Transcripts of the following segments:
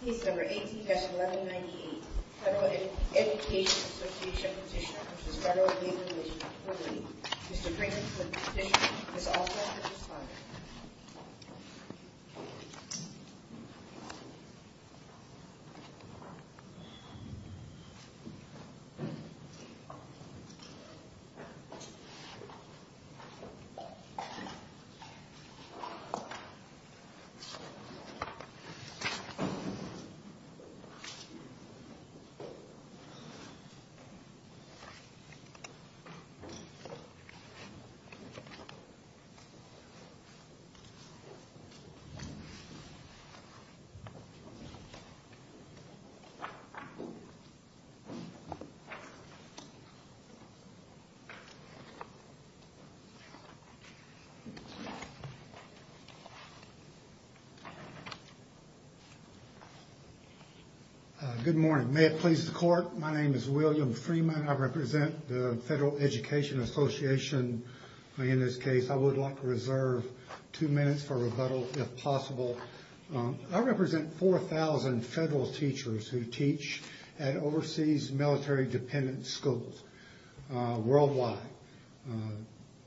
Petition No. 18-1198, Federal Education Association Petitioner v. FLRA, Mr. Brinkman, the petitioner, is also here to respond. Mr. Brinkman, please. Good morning. May it please the court, my name is William Freeman. I represent the Federal Education Association. In this case, I would like to reserve two minutes for rebuttal, if possible. I represent 4,000 federal teachers who teach at overseas military dependent schools worldwide,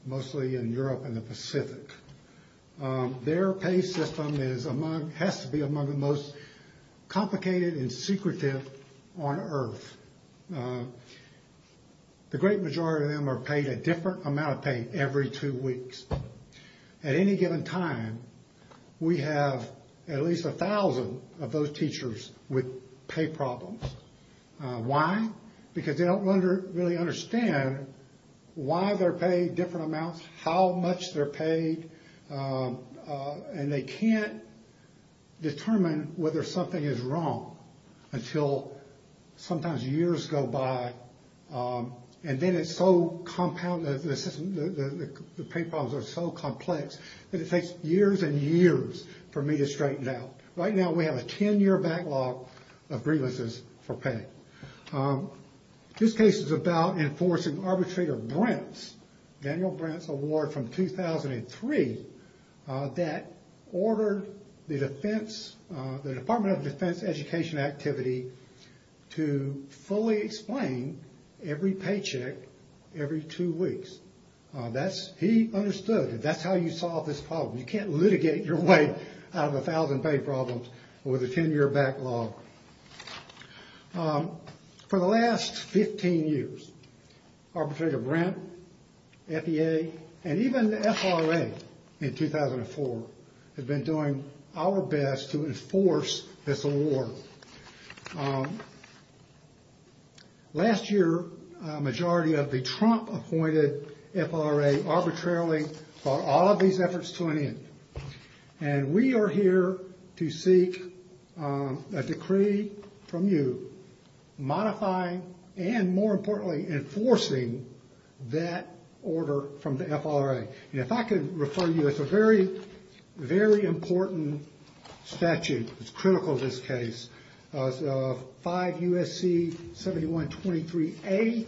mostly in Europe and the Pacific. Their pay system has to be among the most complicated and secretive on earth. The great majority of them are paid a different amount of pay every two weeks. At any given time, we have at least 1,000 of those teachers with pay problems. Why? Because they don't really understand why they're paid different amounts, how much they're paid, and they can't determine whether something is wrong until sometimes years go by. The pay problems are so complex that it takes years and years for me to straighten it out. Right now, we have a 10-year backlog of grievances for pay. This case is about enforcing Arbitrator Brent's award from 2003 that ordered the Department of Defense Education Activity to fully explain every paycheck every two weeks. He understood that that's how you solve this problem. You can't litigate your way out of 1,000 pay problems with a 10-year backlog. For the last 15 years, Arbitrator Brent, FEA, and even the FRA in 2004 have been doing our best to enforce this award. Last year, a majority of the Trump-appointed FRA arbitrarily brought all of these efforts to an end. And we are here to seek a decree from you modifying and, more importantly, enforcing that order from the FRA. If I could refer you to a very, very important statute that's critical to this case, 5 U.S.C. 7123A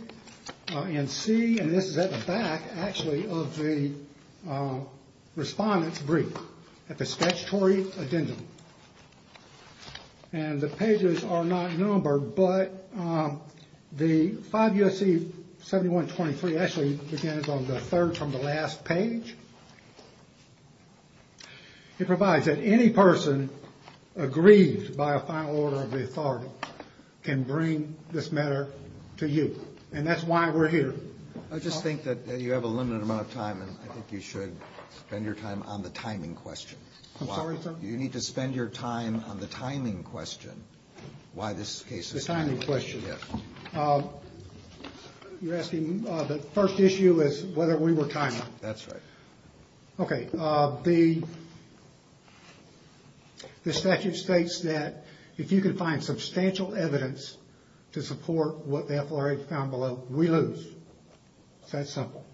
and C. And this is at the back, actually, of the Respondent's Brief at the Statutory Addendum. And the pages are not numbered, but the 5 U.S.C. 7123 actually begins on the third from the last page. It provides that any person aggrieved by a final order of the authority can bring this matter to you. And that's why we're here. I just think that you have a limited amount of time, and I think you should spend your time on the timing question. I'm sorry, sir? You need to spend your time on the timing question, why this case is... The timing question. Yes. You're asking, the first issue is whether we were timing. That's right. Okay, the statute states that if you can find substantial evidence to support what the FRA found below, we lose. It's that simple.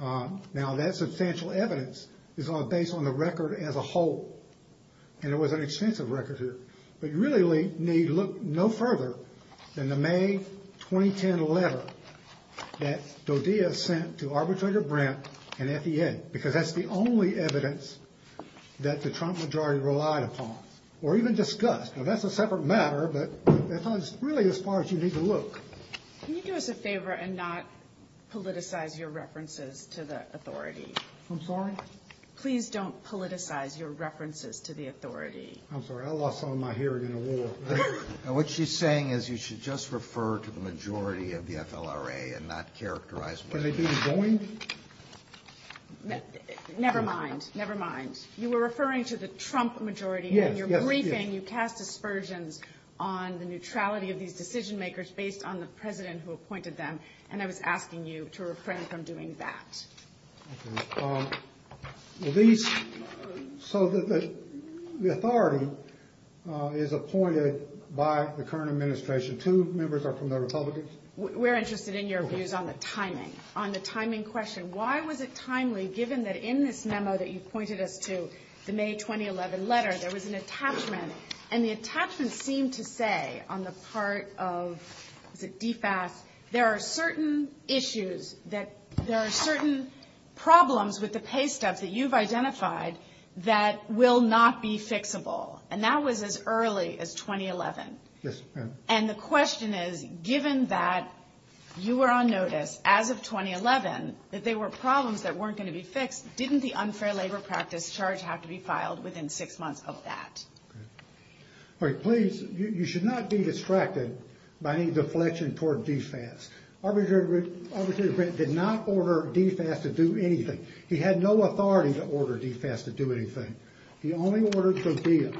Now, that substantial evidence is based on the record as a whole, and it was an extensive record here. But you really need look no further than the May 2010 letter that DoDia sent to Arbitrator Brent and FED, because that's the only evidence that the Trump majority relied upon, or even discussed. Now, that's a separate matter, but that's really as far as you need to look. Can you do us a favor and not politicize your references to the authority? I'm sorry? Please don't politicize your references to the authority. I'm sorry, I lost some of my hearing in a war. Now, what she's saying is you should just refer to the majority of the FLRA and not characterize... Can I do it jointly? Never mind, never mind. You were referring to the Trump majority. Yes, yes. In your briefing, you cast aspersions on the neutrality of these decision makers based on the president who appointed them, and I was asking you to refrain from doing that. Okay. Well, these... So the authority is appointed by the current administration. Two members are from the Republicans. We're interested in your views on the timing, on the timing question. Why was it timely, given that in this memo that you pointed us to, the May 2011 letter, there was an attachment, and the attachment seemed to say on the part of... Was it DFAS? There are certain issues that... There are certain problems with the paystubs that you've identified that will not be fixable, and that was as early as 2011. Yes. And the question is, given that you were on notice as of 2011 that there were problems that weren't going to be fixed, didn't the unfair labor practice charge have to be filed within six months of that? All right. Please, you should not be distracted by any deflection toward DFAS. Arbitrator Brent did not order DFAS to do anything. He had no authority to order DFAS to do anything. He only ordered DODEA.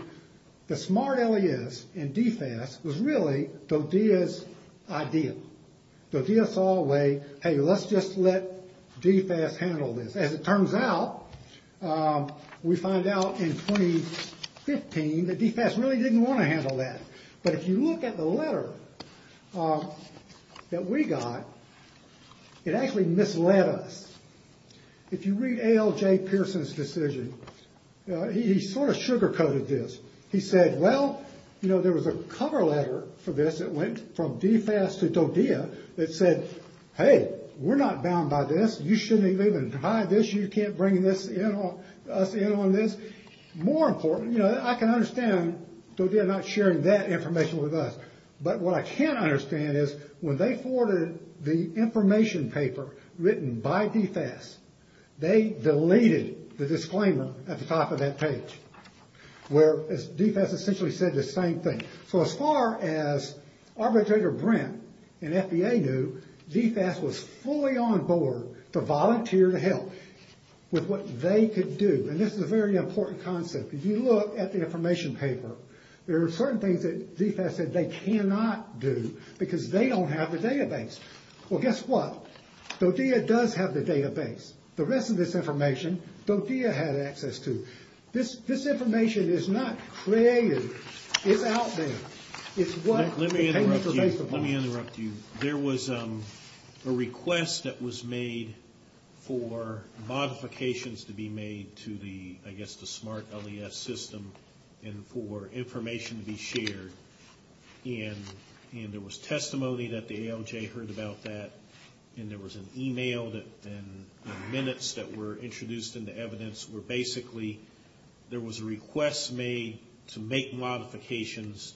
The smart alias in DFAS was really DODEA's idea. DODEA saw a way, hey, let's just let DFAS handle this. As it turns out, we find out in 2015 that DFAS really didn't want to handle that. But if you look at the letter that we got, it actually misled us. If you read ALJ Pearson's decision, he sort of sugar-coated this. He said, well, you know, there was a cover letter for this that went from DFAS to DODEA that said, hey, we're not bound by this. You shouldn't even hide this. You can't bring us in on this. I can understand DODEA not sharing that information with us, but what I can't understand is when they forwarded the information paper written by DFAS, they deleted the disclaimer at the top of that page where DFAS essentially said the same thing. So as far as Arbitrator Brent and FBA knew, DFAS was fully on board to volunteer to help with what they could do. And this is a very important concept. If you look at the information paper, there are certain things that DFAS said they cannot do because they don't have the database. Well, guess what? DODEA does have the database. The rest of this information, DODEA had access to. This information is not created. It's what the paper was based upon. Let me interrupt you. There was a request that was made for modifications to be made to the, I guess, the SMART LES system and for information to be shared. And there was testimony that the ALJ heard about that, and there was an email and minutes that were introduced into evidence where basically there was a request made to make modifications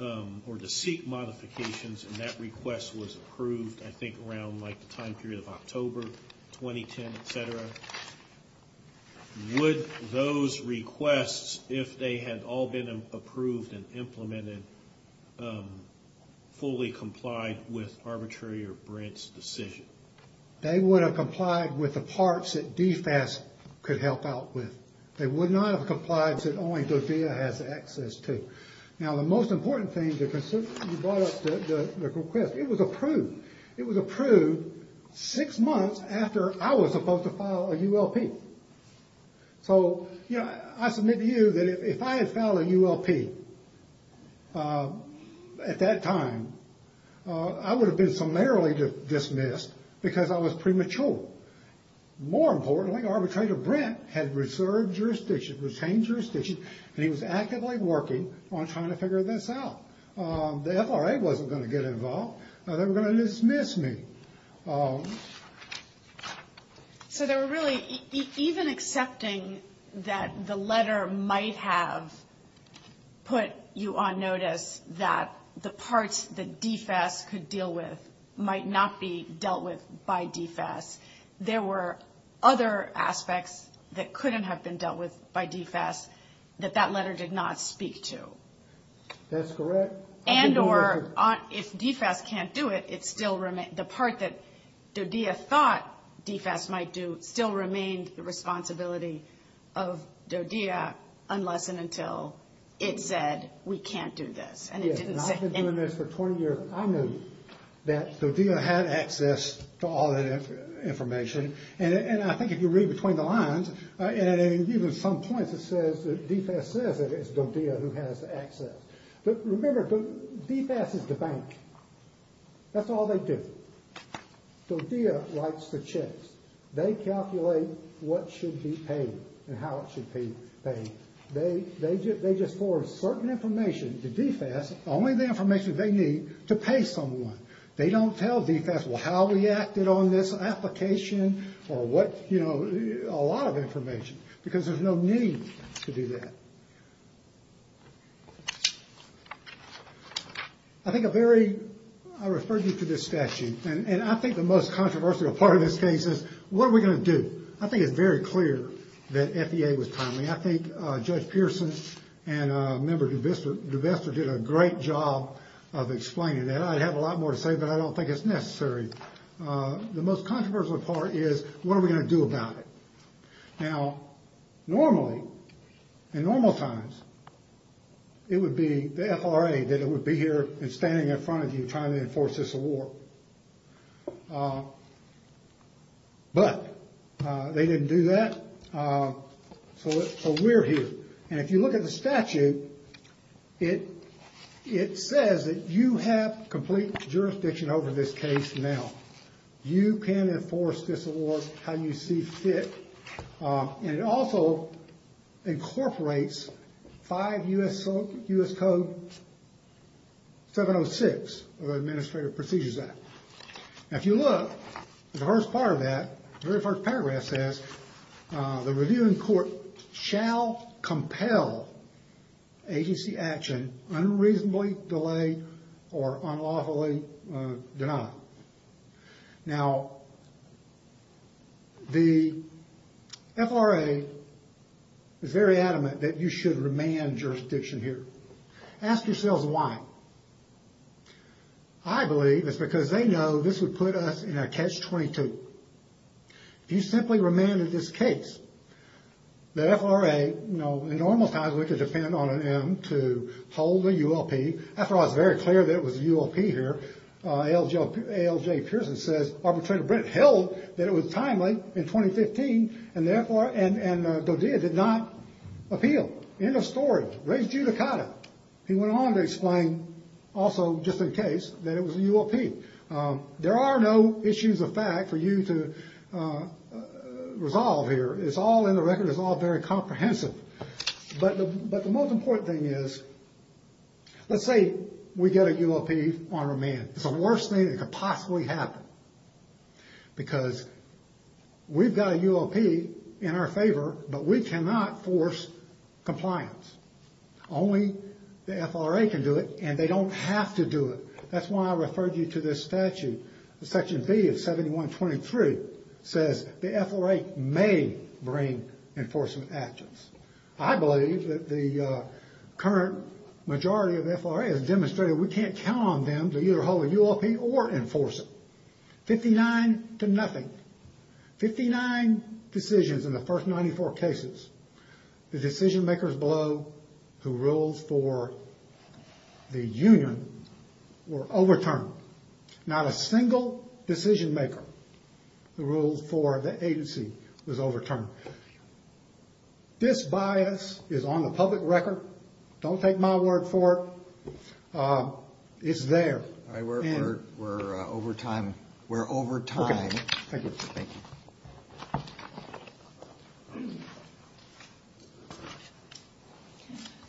or to seek modifications, and that request was approved, I think, around the time period of October 2010, et cetera. Would those requests, if they had all been approved and implemented, fully complied with Arbitrator Brent's decision? They would have complied with the parts that DFAS could help out with. They would not have complied if only DODEA has access to. Now, the most important thing to consider when you brought up the request, it was approved. It was approved six months after I was supposed to file a ULP. So, you know, I submit to you that if I had filed a ULP at that time, I would have been summarily dismissed because I was premature. More importantly, Arbitrator Brent had reserved jurisdiction, retained jurisdiction, and he was actively working on trying to figure this out. The FRA wasn't going to get involved. They were going to dismiss me. So they were really even accepting that the letter might have put you on notice that the parts that DFAS could deal with might not be dealt with by DFAS. There were other aspects that couldn't have been dealt with by DFAS that that letter did not speak to. That's correct. And or if DFAS can't do it, the part that DODEA thought DFAS might do still remained the responsibility of DODEA unless and until it said we can't do this. I've been doing this for 20 years. I knew that DODEA had access to all that information. And I think if you read between the lines, and even some points, it says that DFAS says that it's DODEA who has access. But remember, DFAS is the bank. That's all they do. DODEA writes the checks. They calculate what should be paid and how it should be paid. They just forward certain information to DFAS, only the information they need, to pay someone. They don't tell DFAS, well, how we acted on this application or what, you know, a lot of information because there's no need to do that. I think a very, I referred you to this statute. And I think the most controversial part of this case is what are we going to do? I think it's very clear that FEA was timely. I think Judge Pearson and Member DeVester did a great job of explaining that. I have a lot more to say, but I don't think it's necessary. The most controversial part is what are we going to do about it? Now, normally, in normal times, it would be the FRA that would be here and standing in front of you trying to enforce this award. But they didn't do that, so we're here. And if you look at the statute, it says that you have complete jurisdiction over this case now. You can enforce this award how you see fit. And it also incorporates 5 U.S. Code 706 of the Administrative Procedures Act. Now, if you look at the first part of that, the very first paragraph says, the reviewing court shall compel agency action unreasonably delayed or unlawfully denied. Now, the FRA is very adamant that you should remand jurisdiction here. Ask yourselves why. I believe it's because they know this would put us in a catch-22. If you simply remanded this case, the FRA, you know, in normal times, we could depend on an M to hold a ULP. After all, it's very clear that it was a ULP here. A.L.J. Pearson says, Arbitrator Brent held that it was timely in 2015, and therefore, and Godea did not appeal. End of story. Res judicata. He went on to explain also, just in case, that it was a ULP. There are no issues of fact for you to resolve here. It's all in the record. It's all very comprehensive. But the most important thing is, let's say we get a ULP on remand. It's the worst thing that could possibly happen because we've got a ULP in our favor, but we cannot force compliance. Only the FRA can do it, and they don't have to do it. That's why I referred you to this statute. Section B of 7123 says the FRA may bring enforcement actions. I believe that the current majority of the FRA has demonstrated we can't count on them to either hold a ULP or enforce it. Fifty-nine to nothing. Fifty-nine decisions in the first 94 cases. The decision makers below who ruled for the union were overturned. Not a single decision maker who ruled for the agency was overturned. This bias is on the public record. Don't take my word for it. It's there. We're over time. We're over time. Thank you. Thank you. Thank you.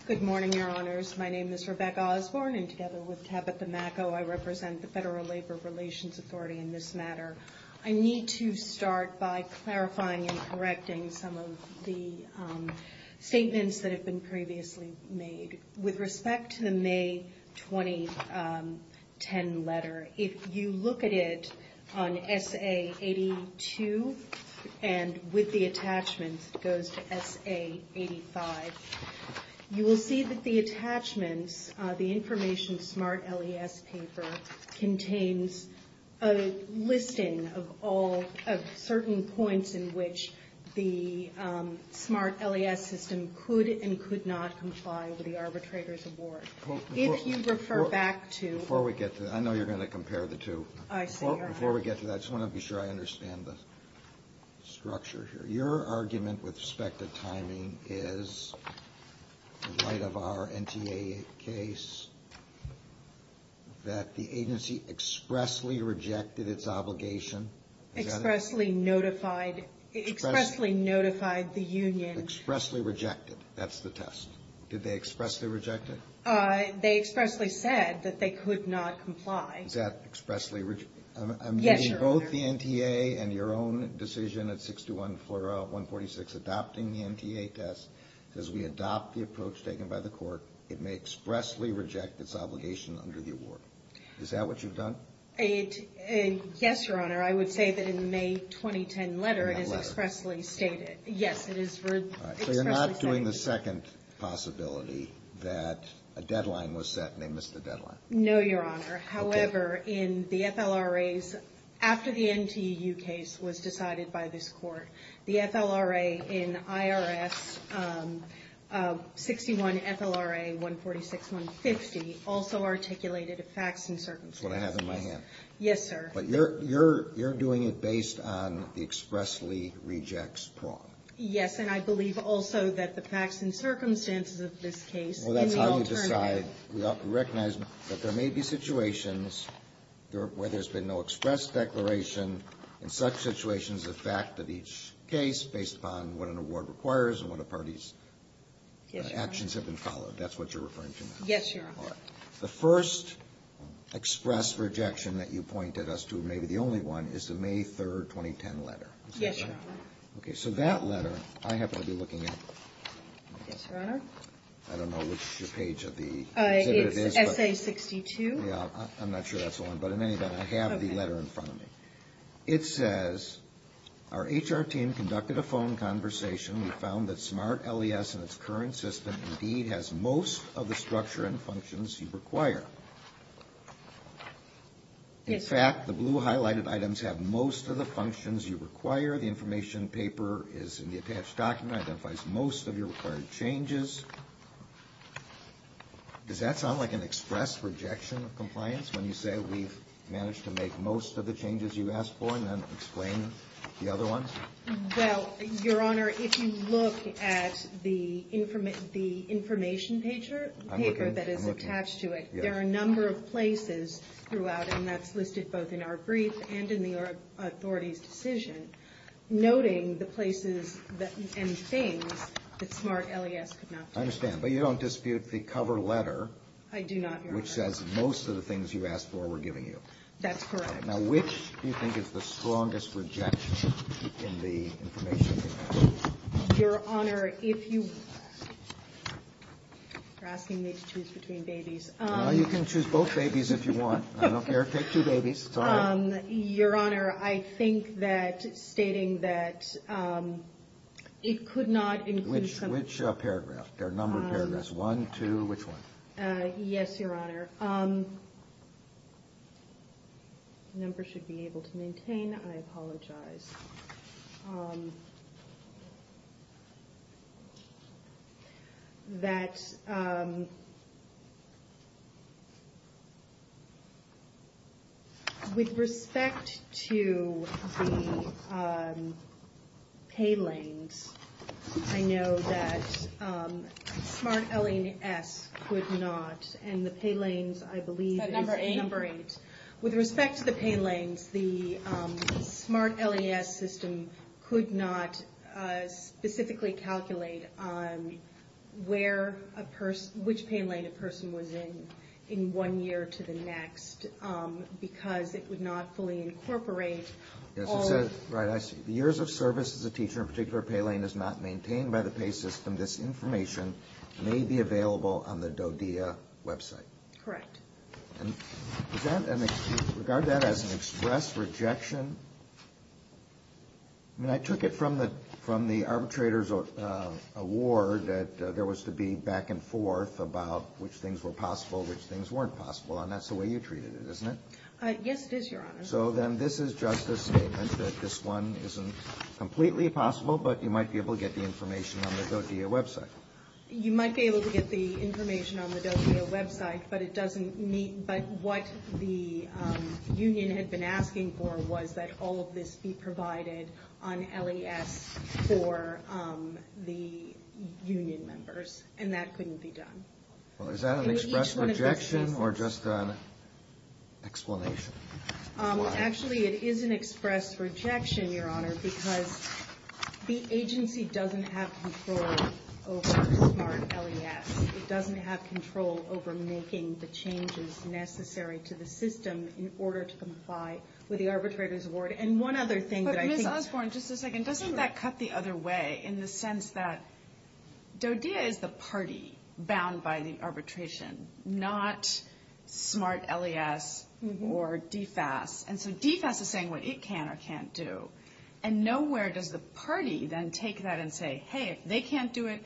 Good morning, Your Honors. My name is Rebecca Osborne, and together with Tabitha Macco, I represent the Federal Labor Relations Authority in this matter. I need to start by clarifying and correcting some of the statements that have been previously made. With respect to the May 2010 letter, if you look at it on SA82 and with the attachments, it goes to SA85, you will see that the attachments, the Information Smart LES paper, contains a listing of all of certain points in which the smart LES system could and could not comply with the arbitrator's award. If you refer back to the... Before we get to that, I know you're going to compare the two. I see, Your Honor. Before we get to that, I just want to be sure I understand the structure here. Your argument with respect to timing is, in light of our NTA case, that the agency expressly rejected its obligation. Expressly notified the union. Expressly rejected. That's the test. Did they expressly reject it? They expressly said that they could not comply. Is that expressly... Yes, Your Honor. With both the NTA and your own decision at 621 FLRA 146 adopting the NTA test, as we adopt the approach taken by the court, it may expressly reject its obligation under the award. Is that what you've done? Yes, Your Honor. I would say that in the May 2010 letter, it is expressly stated. Yes, it is expressly stated. So you're not doing the second possibility that a deadline was set and they missed the deadline. No, Your Honor. However, in the FLRAs, after the NTU case was decided by this court, the FLRA in IRS 61 FLRA 146-150 also articulated facts and circumstances. That's what I have in my hand. Yes, sir. But you're doing it based on the expressly rejects prong. Yes, and I believe also that the facts and circumstances of this case in the alternative... where there's been no express declaration, in such situations, the fact that each case, based upon what an award requires and what a party's... Yes, Your Honor. ...actions have been followed. That's what you're referring to now? Yes, Your Honor. All right. The first express rejection that you pointed us to, and maybe the only one, is the May 3, 2010 letter. Yes, Your Honor. Okay. So that letter, I happen to be looking at... Yes, Your Honor. I don't know which page of the exhibit it is, but... It's essay 62. Yeah, I'm not sure that's the one, but in any event, I have the letter in front of me. Okay. It says, our HR team conducted a phone conversation. We found that SMART LES in its current system indeed has most of the structure and functions you require. Yes, sir. In fact, the blue highlighted items have most of the functions you require. The information paper is in the attached document. It identifies most of your required changes. Does that sound like an express rejection of compliance when you say we've managed to make most of the changes you asked for and then explain the other ones? Well, Your Honor, if you look at the information paper that is attached to it, there are a number of places throughout, and that's listed both in our brief and in the authority's decision, noting the places and things that SMART LES could not do. I understand. But you don't dispute the cover letter... I do not, Your Honor. ...which says most of the things you asked for we're giving you. That's correct. Now, which do you think is the strongest rejection in the information paper? Your Honor, if you are asking me to choose between babies... Well, you can choose both babies if you want. I don't care. Take two babies. It's all right. Your Honor, I think that stating that it could not include some... Which paragraph? There are a number of paragraphs. One, two, which one? Yes, Your Honor. The number should be able to maintain. I apologize. ...that with respect to the pay lanes, I know that SMART LES could not, and the pay lanes, I believe... Is that number eight? ...number eight. With respect to the pay lanes, the SMART LES system could not specifically calculate which pay lane a person was in in one year to the next because it would not fully incorporate all... Right, I see. The years of service as a teacher in a particular pay lane is not maintained by the pay system. This information may be available on the DODEA website. Correct. And regard that as an express rejection? I mean, I took it from the arbitrator's award that there was to be back and forth about which things were possible, which things weren't possible, and that's the way you treated it, isn't it? Yes, it is, Your Honor. So then this is just a statement that this one isn't completely possible, but you might be able to get the information on the DODEA website. You might be able to get the information on the DODEA website, but what the union had been asking for was that all of this be provided on LES for the union members, and that couldn't be done. Well, is that an express rejection or just an explanation? Actually, it is an express rejection, Your Honor, because the agency doesn't have control over SMART LES. It doesn't have control over making the changes necessary to the system in order to comply with the arbitrator's award. And one other thing that I think... But Ms. Osborne, just a second. Doesn't that cut the other way in the sense that DODEA is the party bound by the arbitration, not SMART LES or DFAS? And so DFAS is saying what it can or can't do, and nowhere does the party then take that and say, hey, if they can't do it,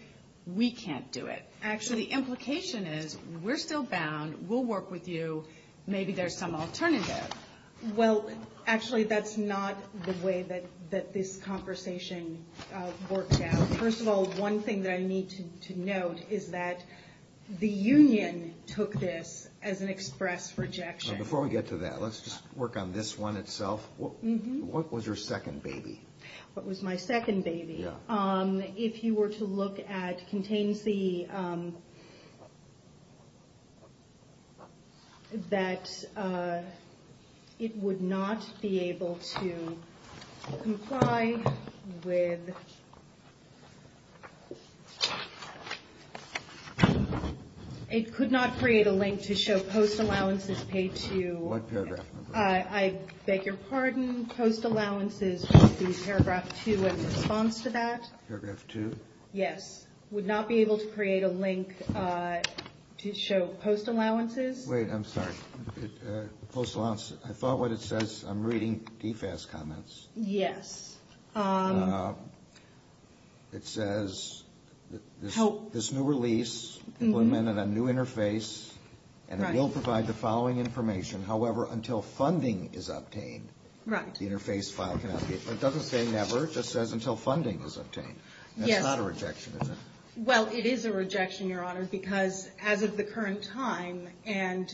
we can't do it. Actually, the implication is we're still bound, we'll work with you, maybe there's some alternative. Well, actually, that's not the way that this conversation worked out. First of all, one thing that I need to note is that the union took this as an express rejection. Before we get to that, let's just work on this one itself. What was your second baby? What was my second baby? If you were to look at contain C, that it would not be able to comply with... It could not create a link to show post allowances paid to... What paragraph? I beg your pardon. Post allowances would be paragraph 2 in response to that. Paragraph 2? Yes. Would not be able to create a link to show post allowances. Wait, I'm sorry. Post allowances. I thought what it says, I'm reading DFAS comments. Yes. It says this new release implemented a new interface, and it will provide the following information. However, until funding is obtained, the interface file cannot be... It doesn't say never. It just says until funding is obtained. Yes. That's not a rejection, is it? Well, it is a rejection, Your Honor, because as of the current time, and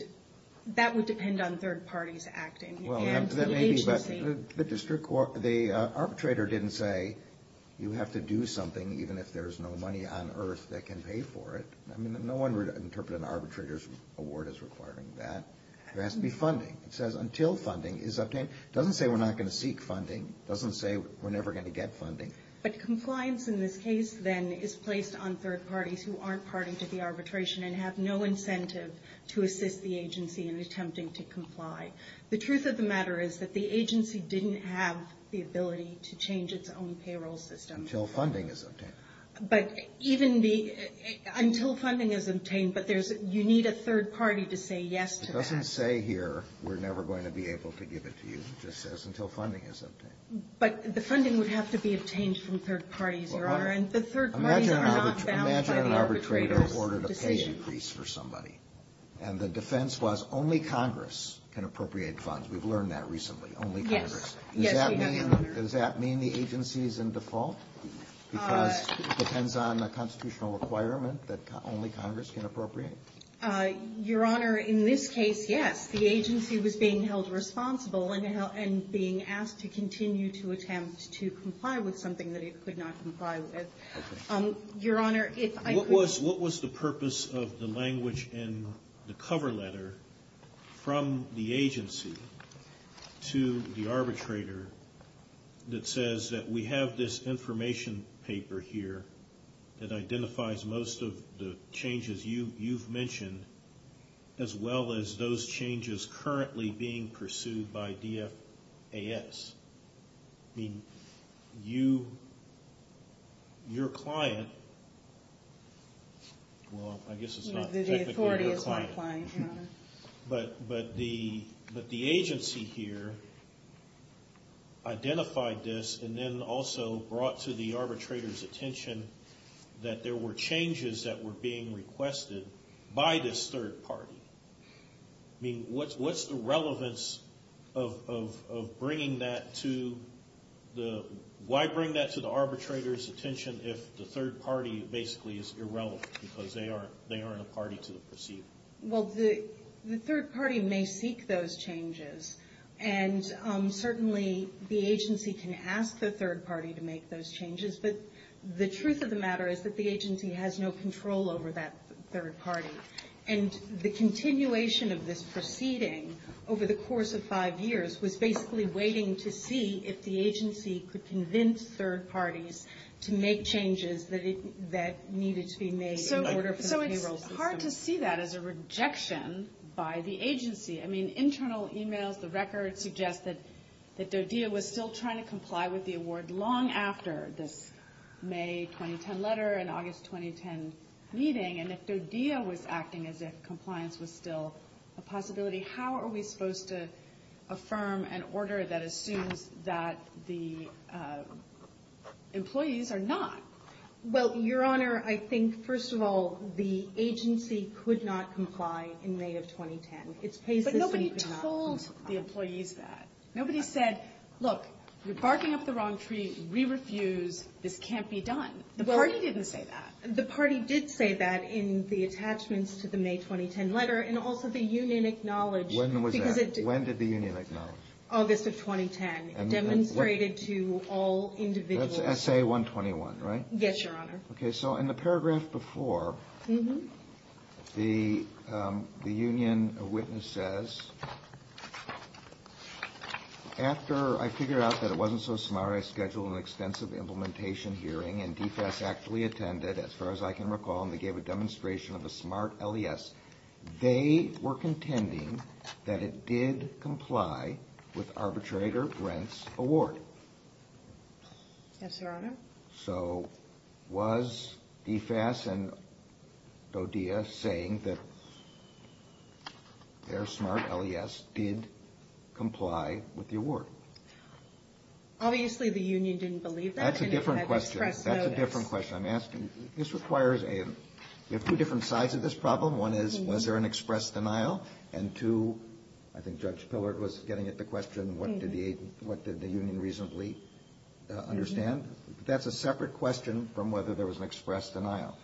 that would depend on third parties acting, and the agency... The arbitrator didn't say you have to do something even if there's no money on earth that can pay for it. I mean, no one would interpret an arbitrator's award as requiring that. There has to be funding. It says until funding is obtained. It doesn't say we're not going to seek funding. It doesn't say we're never going to get funding. But compliance in this case, then, is placed on third parties who aren't party to the arbitration and have no incentive to assist the agency in attempting to comply. The truth of the matter is that the agency didn't have the ability to change its own payroll system. Until funding is obtained. But even the until funding is obtained, but you need a third party to say yes to that. It doesn't say here we're never going to be able to give it to you. It just says until funding is obtained. But the funding would have to be obtained from third parties, Your Honor. And the third parties are not bound by the arbitrator's decision. Imagine an arbitrator awarded a pay decrease for somebody, and the defense was only Congress can appropriate funds. We've learned that recently. Only Congress. Yes. Does that mean the agency is in default? Because it depends on the constitutional requirement that only Congress can appropriate? Your Honor, in this case, yes. The agency was being held responsible and being asked to continue to attempt to comply with something that it could not comply with. Your Honor, if I could. What was the purpose of the language in the cover letter from the agency to the arbitrator that says that we have this information paper here that identifies most of the changes you've mentioned as well as those changes currently being pursued by DFAS? I mean, your client, well, I guess it's not technically your client. The authority is my client, Your Honor. But the agency here identified this and then also brought to the arbitrator's attention that there were changes that were being requested by this third party. I mean, what's the relevance of bringing that to the – why bring that to the arbitrator's attention if the third party basically is irrelevant because they aren't a party to the proceeding? Well, the third party may seek those changes, and certainly the agency can ask the third party to make those changes, but the truth of the matter is that the agency has no control over that third party. And the continuation of this proceeding over the course of five years was basically waiting to see if the agency could convince third parties to make changes that needed to be made in order for the payroll system. So it's hard to see that as a rejection by the agency. I mean, internal emails, the records, suggest that DoDIA was still trying to comply with the award long after this May 2010 letter and August 2010 meeting. And if DoDIA was acting as if compliance was still a possibility, how are we supposed to affirm an order that assumes that the employees are not? Well, Your Honor, I think, first of all, the agency could not comply in May of 2010. But nobody told the employees that. Nobody said, look, you're barking up the wrong tree. We refuse. This can't be done. The party didn't say that. The party did say that in the attachments to the May 2010 letter, and also the union acknowledged. When was that? When did the union acknowledge? August of 2010. It demonstrated to all individuals. That's SA-121, right? Yes, Your Honor. Okay, so in the paragraph before, the union witnesses, after I figured out that it wasn't so smart, I scheduled an extensive implementation hearing, and DFES actively attended, as far as I can recall, and they gave a demonstration of a smart LES. They were contending that it did comply with arbitrator Brent's award. Yes, Your Honor. So was DFES and DODEA saying that their smart LES did comply with the award? Obviously, the union didn't believe that. That's a different question. That's a different question I'm asking. This requires a – we have two different sides to this problem. One is, was there an express denial? And two, I think Judge Pillard was getting at the question, what did the union reasonably understand? That's a separate question from whether there was an express denial.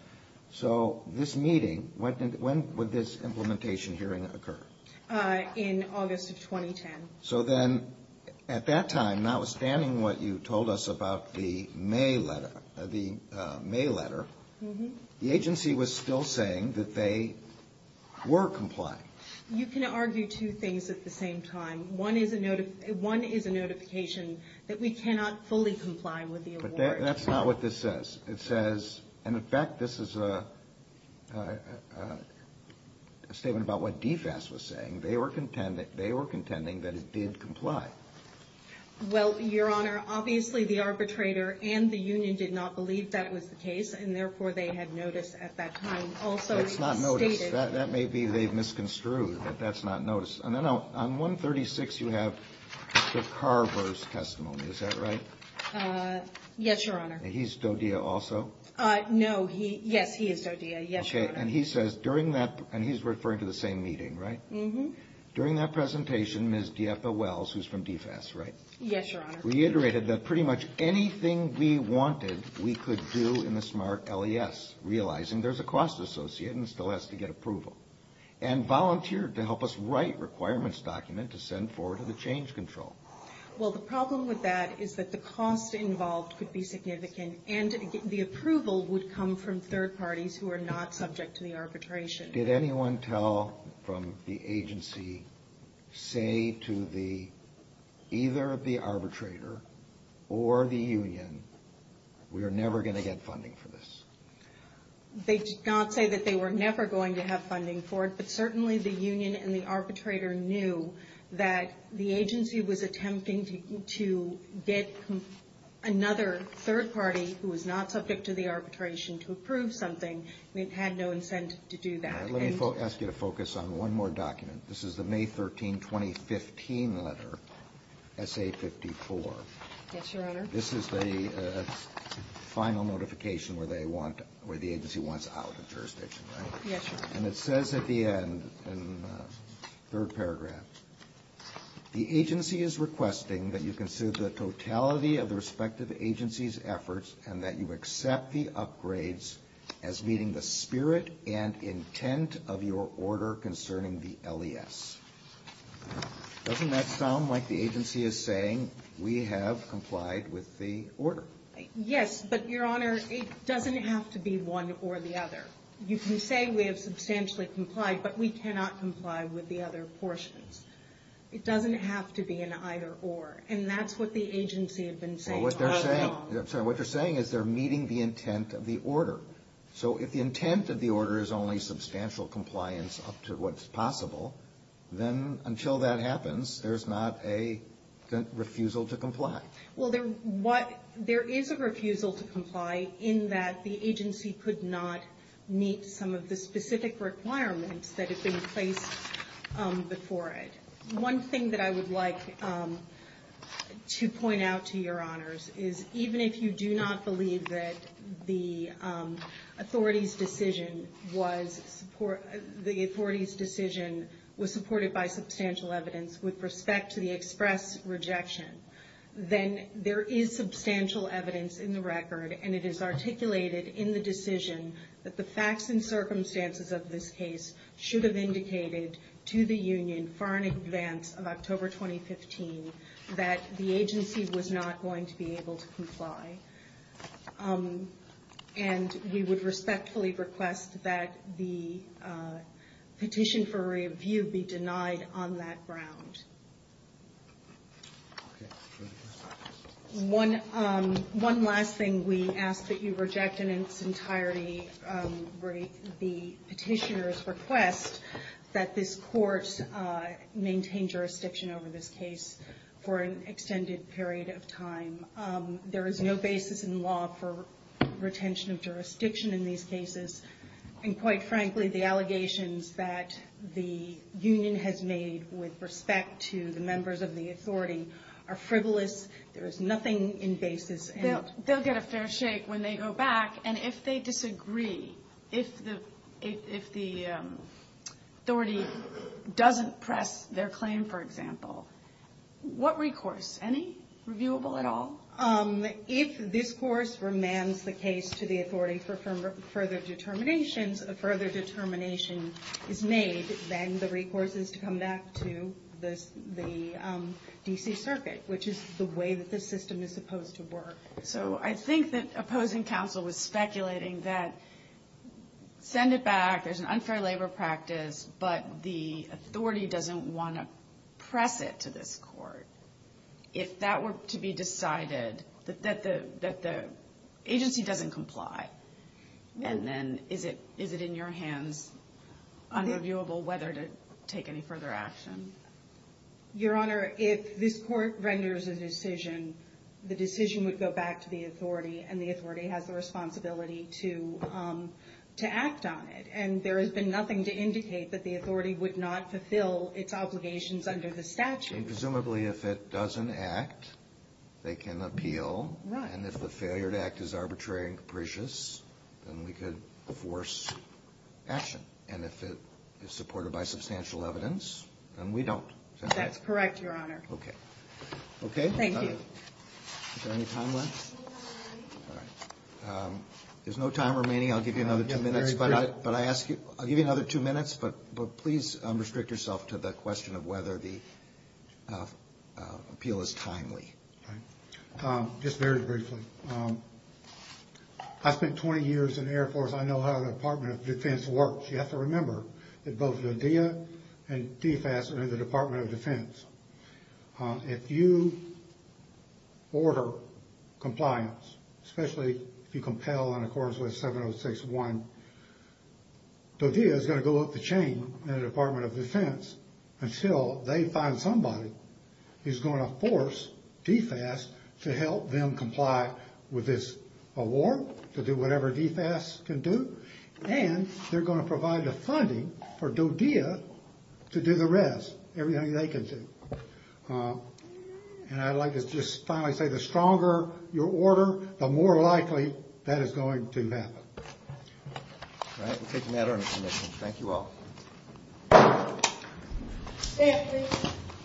So this meeting, when would this implementation hearing occur? In August of 2010. So then, at that time, notwithstanding what you told us about the May letter, the agency was still saying that they were complying. You can argue two things at the same time. One is a notification that we cannot fully comply with the award. But that's not what this says. It says – and, in fact, this is a statement about what DFES was saying. They were contending that it did comply. Well, Your Honor, obviously the arbitrator and the union did not believe that was the case, and therefore they had notice at that time. Also stated. That's not notice. That may be they've misconstrued that that's not notice. And then on 136, you have the Carver's testimony. Is that right? Yes, Your Honor. He's Dodia also? No. Yes, he is Dodia. Yes, Your Honor. Okay. And he says during that – and he's referring to the same meeting, right? Mm-hmm. During that presentation, Ms. Dieppa Wells, who's from DFES, right? Yes, Your Honor. Reiterated that pretty much anything we wanted we could do in the SMART LES, realizing there's a cost associate and still has to get approval. And volunteered to help us write requirements document to send forward to the change control. Well, the problem with that is that the cost involved could be significant, and the approval would come from third parties who are not subject to the arbitration. Did anyone tell from the agency, say to either the arbitrator or the union, we are never going to get funding for this? They did not say that they were never going to have funding for it, but certainly the union and the arbitrator knew that the agency was attempting to get another third party who was not subject to the arbitration to approve something, and it had no incentive to do that. Let me ask you to focus on one more document. This is the May 13, 2015 letter, SA54. Yes, Your Honor. This is the final notification where the agency wants out of jurisdiction, right? Yes, Your Honor. And it says at the end, in the third paragraph, the agency is requesting that you consider the totality of the respective agency's efforts and that you accept the upgrades as meeting the spirit and intent of your order concerning the LES. Doesn't that sound like the agency is saying we have complied with the order? Yes, but, Your Honor, it doesn't have to be one or the other. You can say we have substantially complied, but we cannot comply with the other portions. It doesn't have to be an either-or, and that's what the agency had been saying all along. Well, what they're saying is they're meeting the intent of the order. So if the intent of the order is only substantial compliance up to what's possible, then until that happens, there's not a refusal to comply. Well, there is a refusal to comply in that the agency could not meet some of the specific requirements that had been placed before it. One thing that I would like to point out to Your Honors is, even if you do not believe that the authority's decision was supported by substantial evidence with respect to the express rejection, then there is substantial evidence in the record, and it is articulated in the decision that the facts and circumstances of this case should have indicated to the union far in advance of October 2015 that the agency was not going to be able to comply. And we would respectfully request that the petition for review be denied on that ground. Okay. One last thing we ask that you reject in its entirety, the petitioner's request that this Court maintain jurisdiction over this case for an extended period of time. There is no basis in law for retention of jurisdiction in these cases, and quite frankly, the allegations that the union has made with respect to the members of the authority are frivolous. There is nothing in basis. They'll get a fair shake when they go back. And if they disagree, if the authority doesn't press their claim, for example, what recourse? Any reviewable at all? If this course remains the case to the authority for further determinations, a further determination is made, then the recourse is to come back to the D.C. Circuit, which is the way that the system is supposed to work. So I think that opposing counsel was speculating that send it back, there's an unfair labor practice, but the authority doesn't want to press it to this Court. If that were to be decided, that the agency doesn't comply, and then is it in your hands on reviewable whether to take any further action? Your Honor, if this Court renders a decision, the decision would go back to the authority, and the authority has the responsibility to act on it. And there has been nothing to indicate that the authority would not fulfill its obligations under the statute. And presumably if it doesn't act, they can appeal. Right. And if the failure to act is arbitrary and capricious, then we could force action. And if it is supported by substantial evidence, then we don't. That's correct, Your Honor. Okay. Okay? Is there any time left? There's no time remaining. There's no time remaining. I'll give you another two minutes. But I ask you, I'll give you another two minutes, but please restrict yourself to the question of whether the appeal is timely. Right. Just very briefly. I spent 20 years in the Air Force. I know how the Department of Defense works. You have to remember that both DODEA and DFAS are in the Department of Defense. If you order compliance, especially if you compel in accordance with 706.1, DODEA is going to go up the chain in the Department of Defense until they find somebody who's going to force DFAS to help them comply with this award, to do whatever DFAS can do. And they're going to provide the funding for DODEA to do the rest, everything they can do. And I'd like to just finally say the stronger your order, the more likely that is going to happen. All right. We'll take a matter into commission. Thank you all.